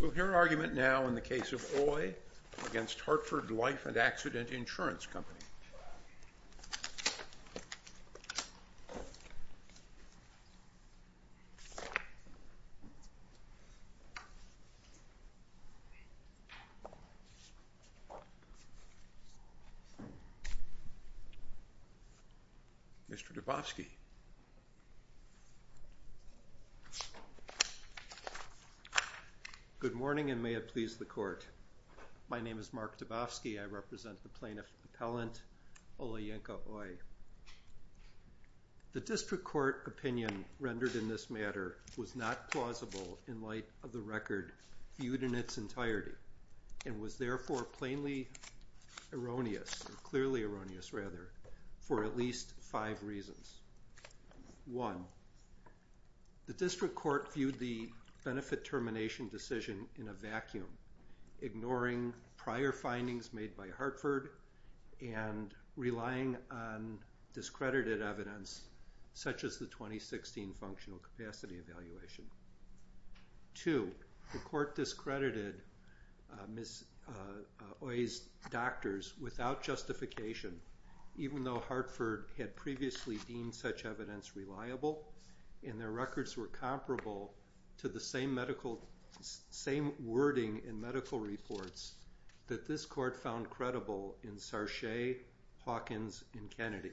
Oye v. Hartford Life and Accident Insurance Company Oye v. Hartford Life and Accident Insurance Company Mr. Dubofsky Good morning and may it please the court. My name is Mark Dubofsky. I represent the plaintiff appellant Olayinka Oye. The district court opinion rendered in this matter was not plausible in light of the record viewed in its entirety and was therefore plainly erroneous, clearly erroneous rather, for at least five reasons. One, the district court viewed the benefit termination decision in a vacuum, ignoring prior findings made by Hartford and relying on discredited evidence such as the 2016 functional capacity evaluation. Two, the court discredited Ms. Oye's doctors without justification, even though Hartford had previously deemed such evidence reliable and their records were comparable to the same wording in medical reports that this court found credible in Sarche, Hawkins, and Kennedy.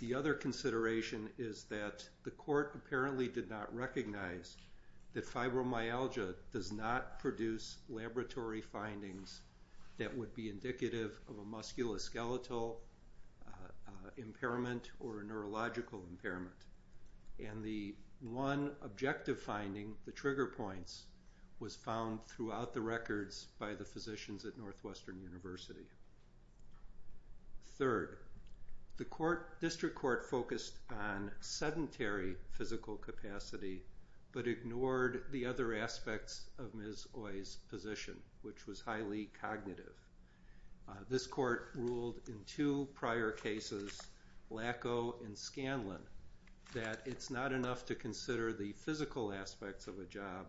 The other consideration is that the court apparently did not recognize that fibromyalgia does not produce laboratory findings that would be indicative of a musculoskeletal impairment or a neurological impairment. And the one objective finding, the trigger points, was found throughout the records by the physicians at Northwestern University. Third, the district court focused on sedentary physical capacity but ignored the other aspects of Ms. Oye's position, which was highly cognitive. This court ruled in two prior cases, Lackow and Scanlon, that it's not enough to consider the physical aspects of a job,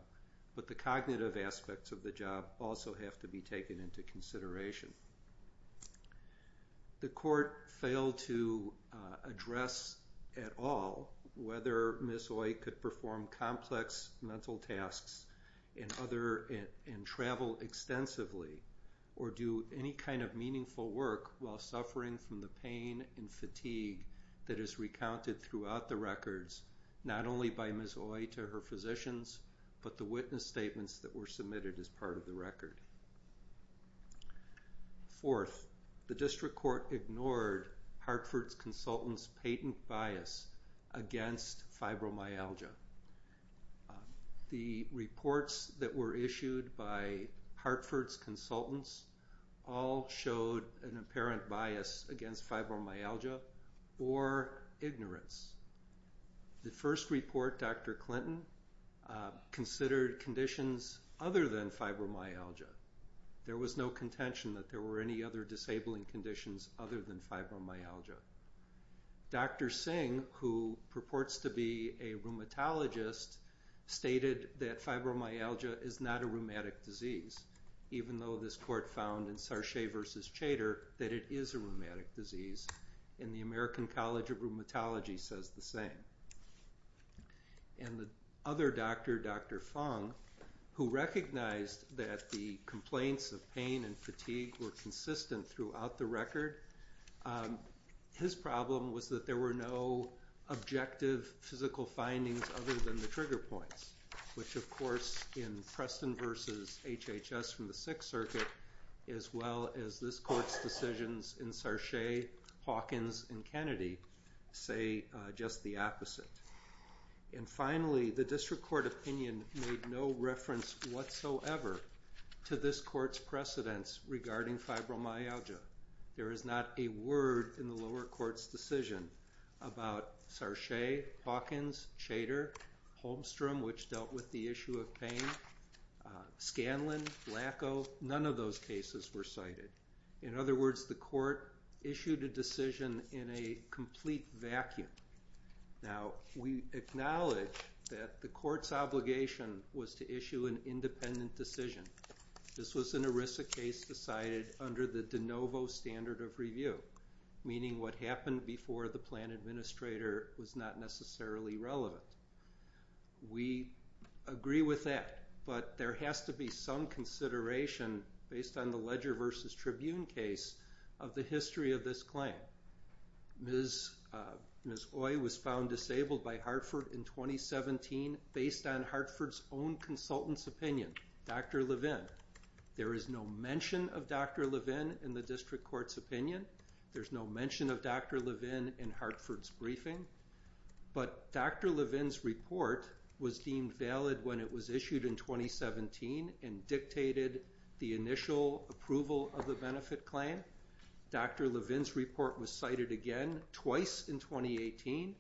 but the cognitive aspects of the job also have to be taken into consideration. The court failed to address at all whether Ms. Oye could perform complex mental tasks and travel extensively or do any kind of meaningful work while suffering from the pain and fatigue that is recounted throughout the records, not only by Ms. Oye to her physicians, but the witness statements that were submitted as part of the record. Fourth, the district court ignored Hartford's consultants' patent bias against fibromyalgia. The reports that were issued by Hartford's consultants all showed an apparent bias against fibromyalgia or ignorance. The first report, Dr. Clinton, considered conditions other than fibromyalgia. There was no contention that there were any other disabling conditions other than fibromyalgia. Dr. Singh, who purports to be a rheumatologist, stated that fibromyalgia is not a rheumatic disease, even though this court found in Sarche v. Chater that it is a rheumatic disease, and the American College of Rheumatology says the same. And the other doctor, Dr. Fung, who recognized that the complaints of pain and fatigue were consistent throughout the record, his problem was that there were no objective physical findings other than the trigger points, which, of course, in Preston v. HHS from the Sixth Circuit, as well as this court's decisions in Sarche, Hawkins, and Kennedy, say just the opposite. And finally, the district court opinion made no reference whatsoever to this court's precedents regarding fibromyalgia. There is not a word in the lower court's decision about Sarche, Hawkins, Chater, Holmstrom, which dealt with the issue of pain. Scanlon, Lackow, none of those cases were cited. In other words, the court issued a decision in a complete vacuum. Now, we acknowledge that the court's obligation was to issue an independent decision. This was an ERISA case decided under the de novo standard of review, meaning what happened before the plan administrator was not necessarily relevant. We agree with that, but there has to be some consideration, based on the Ledger v. Tribune case, of the history of this claim. Ms. Oye was found disabled by Hartford in 2017 based on Hartford's own consultant's opinion, Dr. Levin. There is no mention of Dr. Levin in the district court's opinion. There's no mention of Dr. Levin in Hartford's briefing. But Dr. Levin's report was deemed valid when it was issued in 2017 and dictated the initial approval of the benefit claim. Dr. Levin's report was cited again twice in 2018,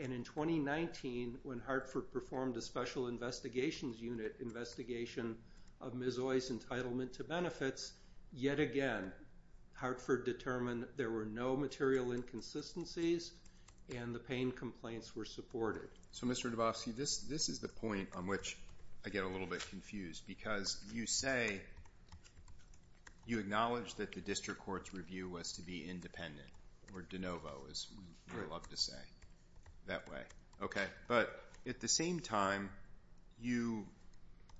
and in 2019 when Hartford performed a special investigations unit investigation of Ms. Oye's entitlement to benefits. Yet again, Hartford determined there were no material inconsistencies and the pain complaints were supported. So, Mr. Dubofsky, this is the point on which I get a little bit confused, because you say you acknowledge that the district court's review was to be independent, or de novo, as we love to say that way. But at the same time, you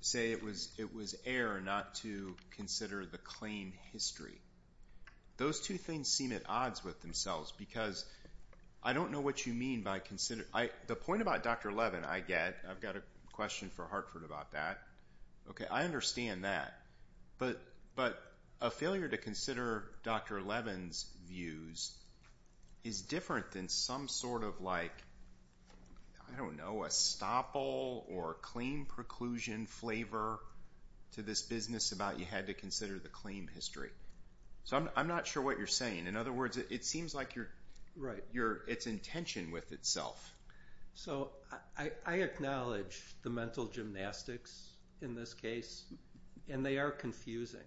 say it was error not to consider the claim history. Those two things seem at odds with themselves, because I don't know what you mean by consider— The point about Dr. Levin I get, I've got a question for Hartford about that. Okay, I understand that. But a failure to consider Dr. Levin's views is different than some sort of like, I don't know, a stopple or claim preclusion flavor to this business about you had to consider the claim history. So I'm not sure what you're saying. In other words, it seems like it's in tension with itself. So I acknowledge the mental gymnastics in this case, and they are confusing.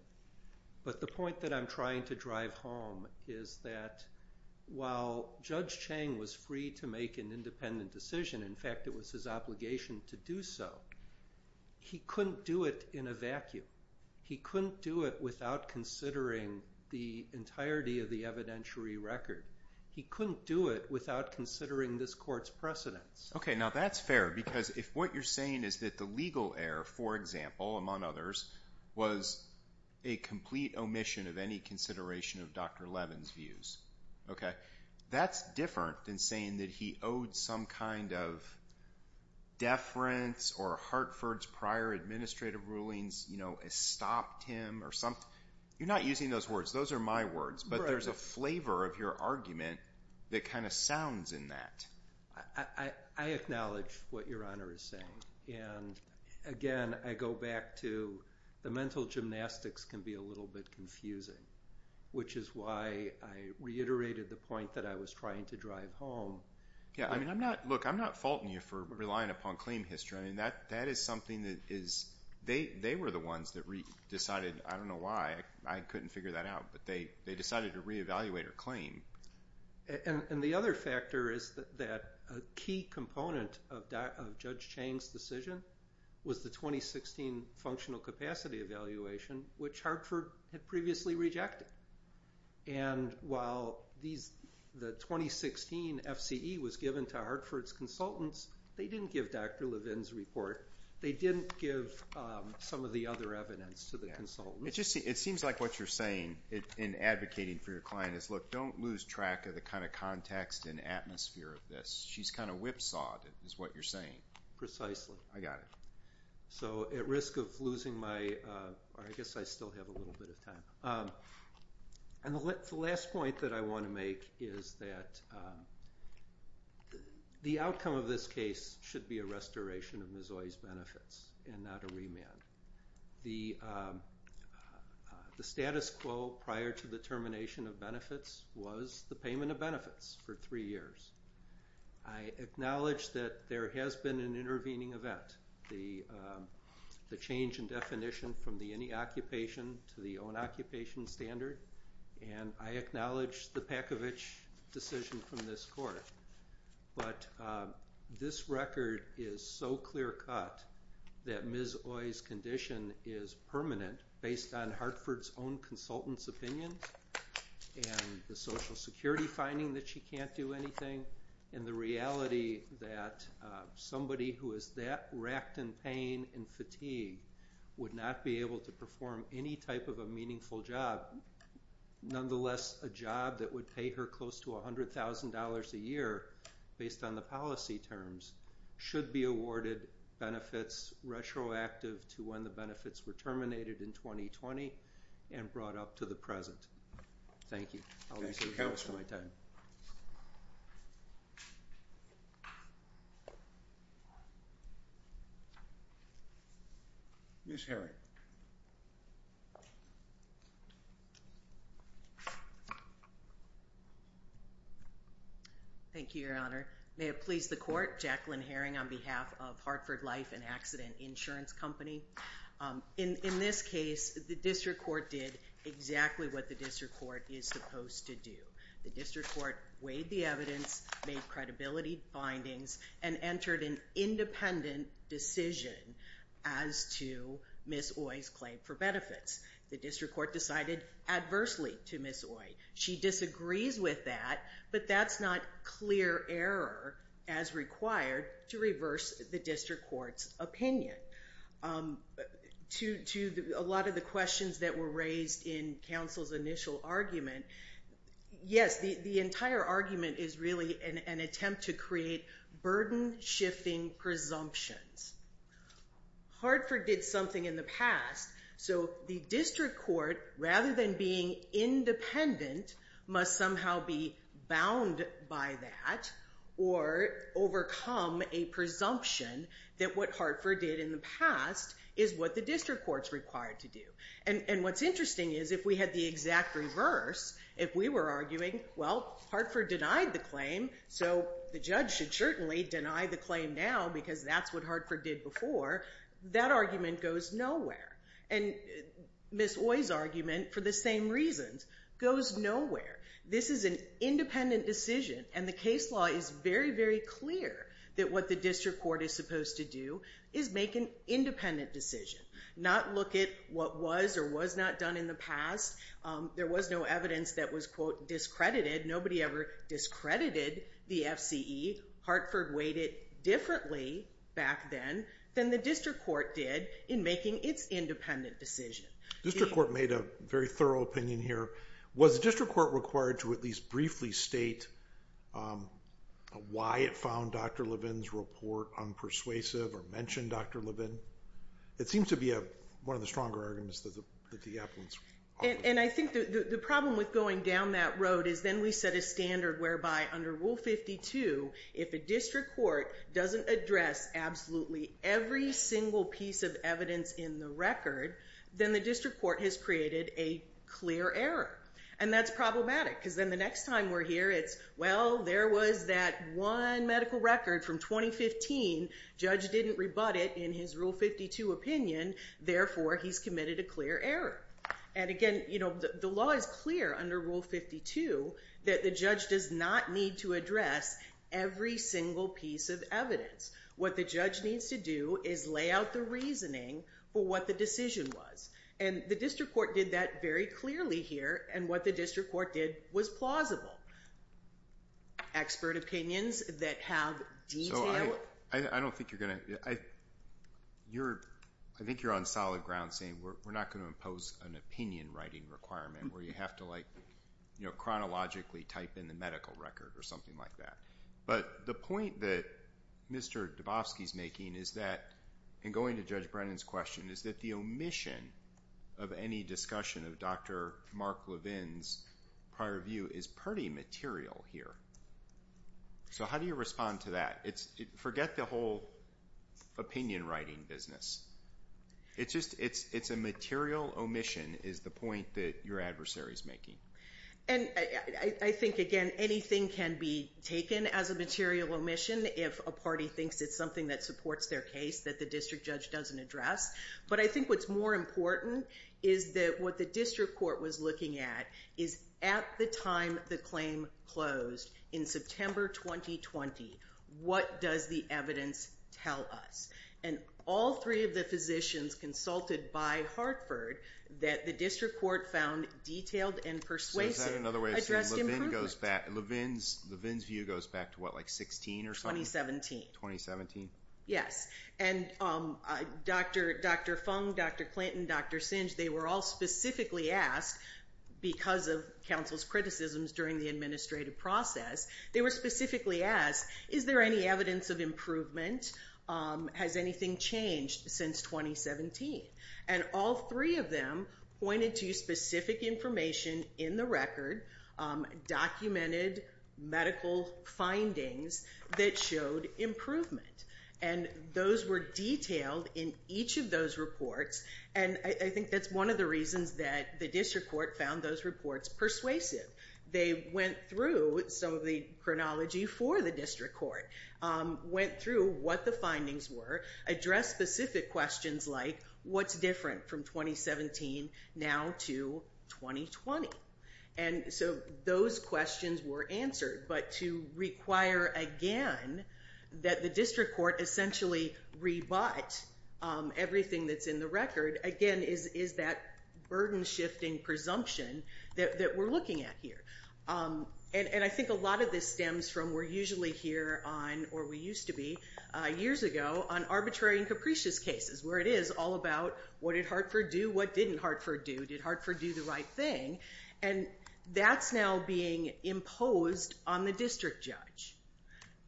But the point that I'm trying to drive home is that while Judge Chang was free to make an independent decision, in fact it was his obligation to do so, he couldn't do it in a vacuum. He couldn't do it without considering the entirety of the evidentiary record. He couldn't do it without considering this court's precedents. Okay, now that's fair, because if what you're saying is that the legal error, for example, among others, was a complete omission of any consideration of Dr. Levin's views, okay, that's different than saying that he owed some kind of deference or Hartford's prior administrative rulings, you know, stopped him or something. You're not using those words. Those are my words. But there's a flavor of your argument that kind of sounds in that. I acknowledge what Your Honor is saying. And again, I go back to the mental gymnastics can be a little bit confusing, which is why I reiterated the point that I was trying to drive home. Yeah, I mean, look, I'm not faulting you for relying upon claim history. I mean, that is something that is they were the ones that decided. I don't know why. I couldn't figure that out. But they decided to reevaluate her claim. And the other factor is that a key component of Judge Chang's decision was the 2016 functional capacity evaluation, which Hartford had previously rejected. And while the 2016 FCE was given to Hartford's consultants, they didn't give Dr. Levin's report. They didn't give some of the other evidence to the consultants. It seems like what you're saying in advocating for your client is, look, don't lose track of the kind of context and atmosphere of this. She's kind of whipsawed is what you're saying. Precisely. I got it. So at risk of losing my or I guess I still have a little bit of time. And the last point that I want to make is that the outcome of this case should be a restoration of Mizzoy's benefits and not a remand. The status quo prior to the termination of benefits was the payment of benefits for three years. I acknowledge that there has been an intervening event. The change in definition from the any occupation to the own occupation standard. And I acknowledge the Packovich decision from this court. But this record is so clear cut that Mizzoy's condition is permanent based on Hartford's own consultants' opinions and the Social Security finding that she can't do anything and the reality that somebody who is that racked in pain and fatigue would not be able to perform any type of a meaningful job. Nonetheless, a job that would pay her close to $100,000 a year based on the policy terms should be awarded benefits retroactive to when the benefits were terminated in 2020 and brought up to the present. Thank you. Thank you, Counsel, for my time. Ms. Herring. Thank you, Your Honor. May it please the court, Jacqueline Herring on behalf of Hartford Life and Accident Insurance Company. In this case, the district court did exactly what the district court is supposed to do. The district court weighed the evidence, made credibility findings, and entered an independent decision as to Ms. Oye's claim for benefits. The district court decided adversely to Ms. Oye. She disagrees with that, but that's not clear error as required to reverse the district court's opinion. To a lot of the questions that were raised in Counsel's initial argument, yes, the entire argument is really an attempt to create burden-shifting presumptions. Hartford did something in the past, so the district court, rather than being independent, must somehow be bound by that or overcome a presumption that what Hartford did in the past is what the district court's required to do. And what's interesting is if we had the exact reverse, if we were arguing, well, Hartford denied the claim, so the judge should certainly deny the claim now because that's what Hartford did before, that argument goes nowhere. And Ms. Oye's argument, for the same reasons, goes nowhere. This is an independent decision, and the case law is very, very clear that what the district court is supposed to do is make an independent decision, not look at what was or was not done in the past. There was no evidence that was, quote, discredited. Nobody ever discredited the FCE. Hartford weighed it differently back then than the district court did in making its independent decision. The district court made a very thorough opinion here. Was the district court required to at least briefly state why it found Dr. Levin's report unpersuasive or mention Dr. Levin? It seems to be one of the stronger arguments that the appellants offered. And I think the problem with going down that road is then we set a standard whereby under Rule 52, if a district court doesn't address absolutely every single piece of evidence in the record, then the district court has created a clear error. And that's problematic because then the next time we're here, it's, well, there was that one medical record from 2015. Judge didn't rebut it in his Rule 52 opinion. Therefore, he's committed a clear error. And again, you know, the law is clear under Rule 52 that the judge does not need to address every single piece of evidence. What the judge needs to do is lay out the reasoning for what the decision was. And the district court did that very clearly here. And what the district court did was plausible. Expert opinions that have detail. I don't think you're going to, I think you're on solid ground saying we're not going to impose an opinion writing requirement where you have to like, you know, chronologically type in the medical record or something like that. But the point that Mr. Dubofsky is making is that, in going to Judge Brennan's question, is that the omission of any discussion of Dr. Mark Levin's prior view is pretty material here. So how do you respond to that? Forget the whole opinion writing business. It's just, it's a material omission is the point that your adversary is making. And I think, again, anything can be taken as a material omission if a party thinks it's something that supports their case that the district judge doesn't address. But I think what's more important is that what the district court was looking at is at the time the claim closed, in September 2020, what does the evidence tell us? And all three of the physicians consulted by Hartford that the district court found detailed and persuasive addressed improperly. So is that another way of saying Levin's view goes back to what, like 16 or something? 2017. 2017? Yes. And Dr. Fung, Dr. Clinton, Dr. Singe, they were all specifically asked, because of counsel's criticisms during the administrative process, they were specifically asked, is there any evidence of improvement? Has anything changed since 2017? And all three of them pointed to specific information in the record, documented medical findings that showed improvement. And those were detailed in each of those reports, and I think that's one of the reasons that the district court found those reports persuasive. They went through some of the chronology for the district court, went through what the findings were, addressed specific questions like, what's different from 2017 now to 2020? And so those questions were answered. But to require, again, that the district court essentially rebut everything that's in the record, again, is that burden-shifting presumption that we're looking at here. And I think a lot of this stems from we're usually here on, or we used to be years ago, on arbitrary and capricious cases, where it is all about, what did Hartford do? What didn't Hartford do? Did Hartford do the right thing? And that's now being imposed on the district judge.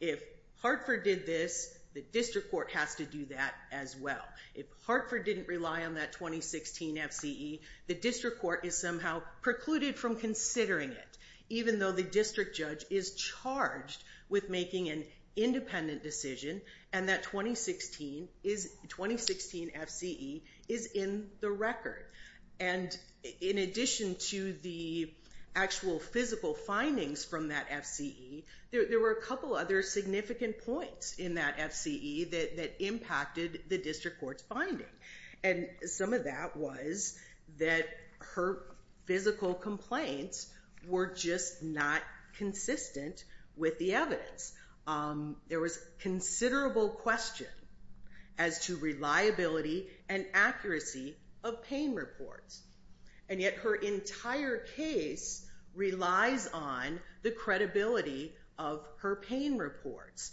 If Hartford did this, the district court has to do that as well. If Hartford didn't rely on that 2016 FCE, the district court is somehow precluded from considering it, even though the district judge is charged with making an independent decision, and that 2016 FCE is in the record. And in addition to the actual physical findings from that FCE, there were a couple other significant points in that FCE that impacted the district court's finding. And some of that was that her physical complaints were just not consistent with the evidence. There was considerable question as to reliability and accuracy of pain reports. And yet her entire case relies on the credibility of her pain reports.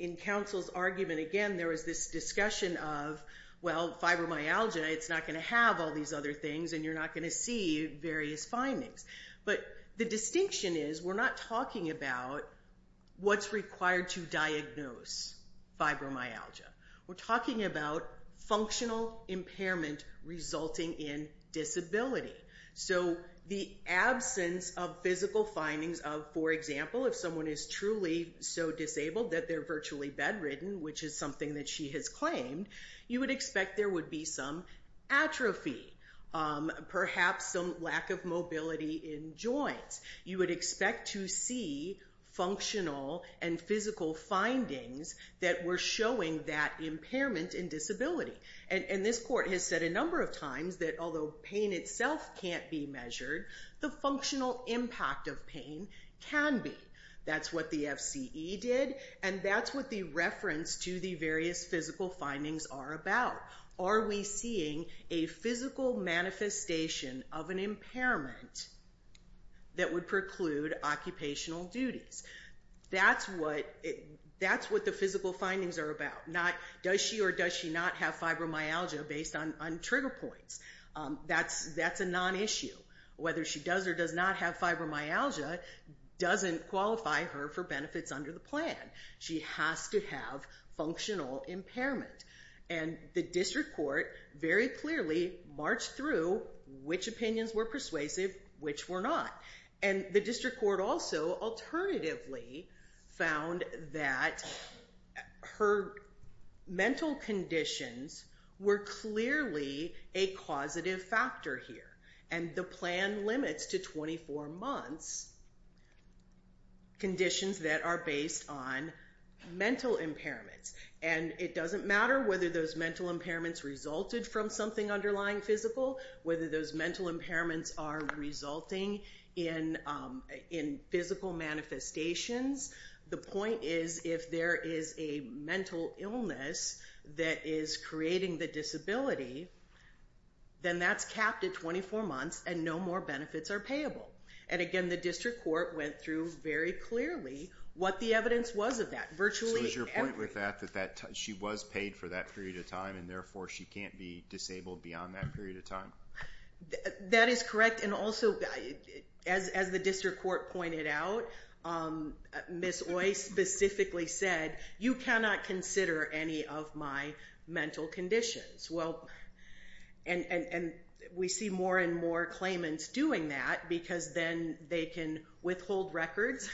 In counsel's argument, again, there was this discussion of, well, fibromyalgia, it's not going to have all these other things, and you're not going to see various findings. But the distinction is we're not talking about what's required to diagnose fibromyalgia. We're talking about functional impairment resulting in disability. So the absence of physical findings of, for example, if someone is truly so disabled that they're virtually bedridden, which is something that she has claimed, you would expect there would be some atrophy, perhaps some lack of mobility in joints. You would expect to see functional and physical findings that were showing that impairment in disability. And this court has said a number of times that although pain itself can't be measured, the functional impact of pain can be. That's what the FCE did, and that's what the reference to the various physical findings are about. Are we seeing a physical manifestation of an impairment that would preclude occupational duties? That's what the physical findings are about. Does she or does she not have fibromyalgia based on trigger points? That's a non-issue. Whether she does or does not have fibromyalgia doesn't qualify her for benefits under the plan. She has to have functional impairment. And the district court very clearly marched through which opinions were persuasive, which were not. And the district court also alternatively found that her mental conditions were clearly a causative factor here. And the plan limits to 24 months conditions that are based on mental impairments. And it doesn't matter whether those mental impairments resulted from something underlying physical, whether those mental impairments are resulting in physical manifestations. The point is if there is a mental illness that is creating the disability, then that's capped at 24 months and no more benefits are payable. And again, the district court went through very clearly what the evidence was of that. So is your point with that that she was paid for that period of time, and therefore she can't be disabled beyond that period of time? That is correct. And also, as the district court pointed out, Ms. Oist specifically said, you cannot consider any of my mental conditions. And we see more and more claimants doing that because then they can withhold records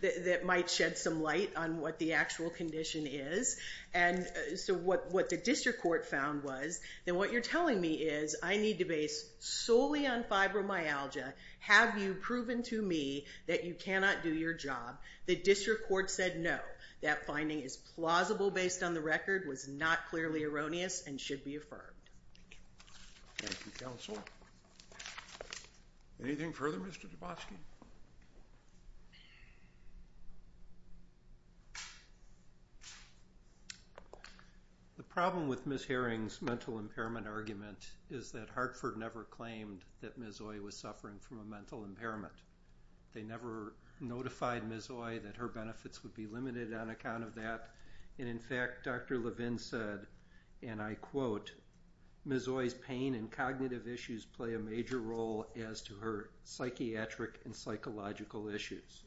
that might shed some light on what the actual condition is. And so what the district court found was that what you're telling me is I need to base solely on fibromyalgia. Have you proven to me that you cannot do your job? The district court said no. That finding is plausible based on the record, was not clearly erroneous, and should be affirmed. Thank you, counsel. Anything further, Mr. Dubosky? The problem with Ms. Herring's mental impairment argument is that Hartford never claimed that Ms. Oist was suffering from a mental impairment. They never notified Ms. Oist that her benefits would be limited on account of that. And, in fact, Dr. Levin said, and I quote, Ms. Oist's pain and cognitive issues play a major role as to her psychiatric and psychological issues.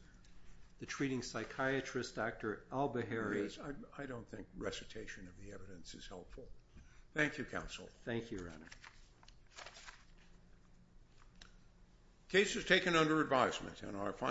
The treating psychiatrist, Dr. Al-Bahari. I don't think recitation of the evidence is helpful. Thank you, counsel. Thank you, Your Honor. Case is taken under advisement.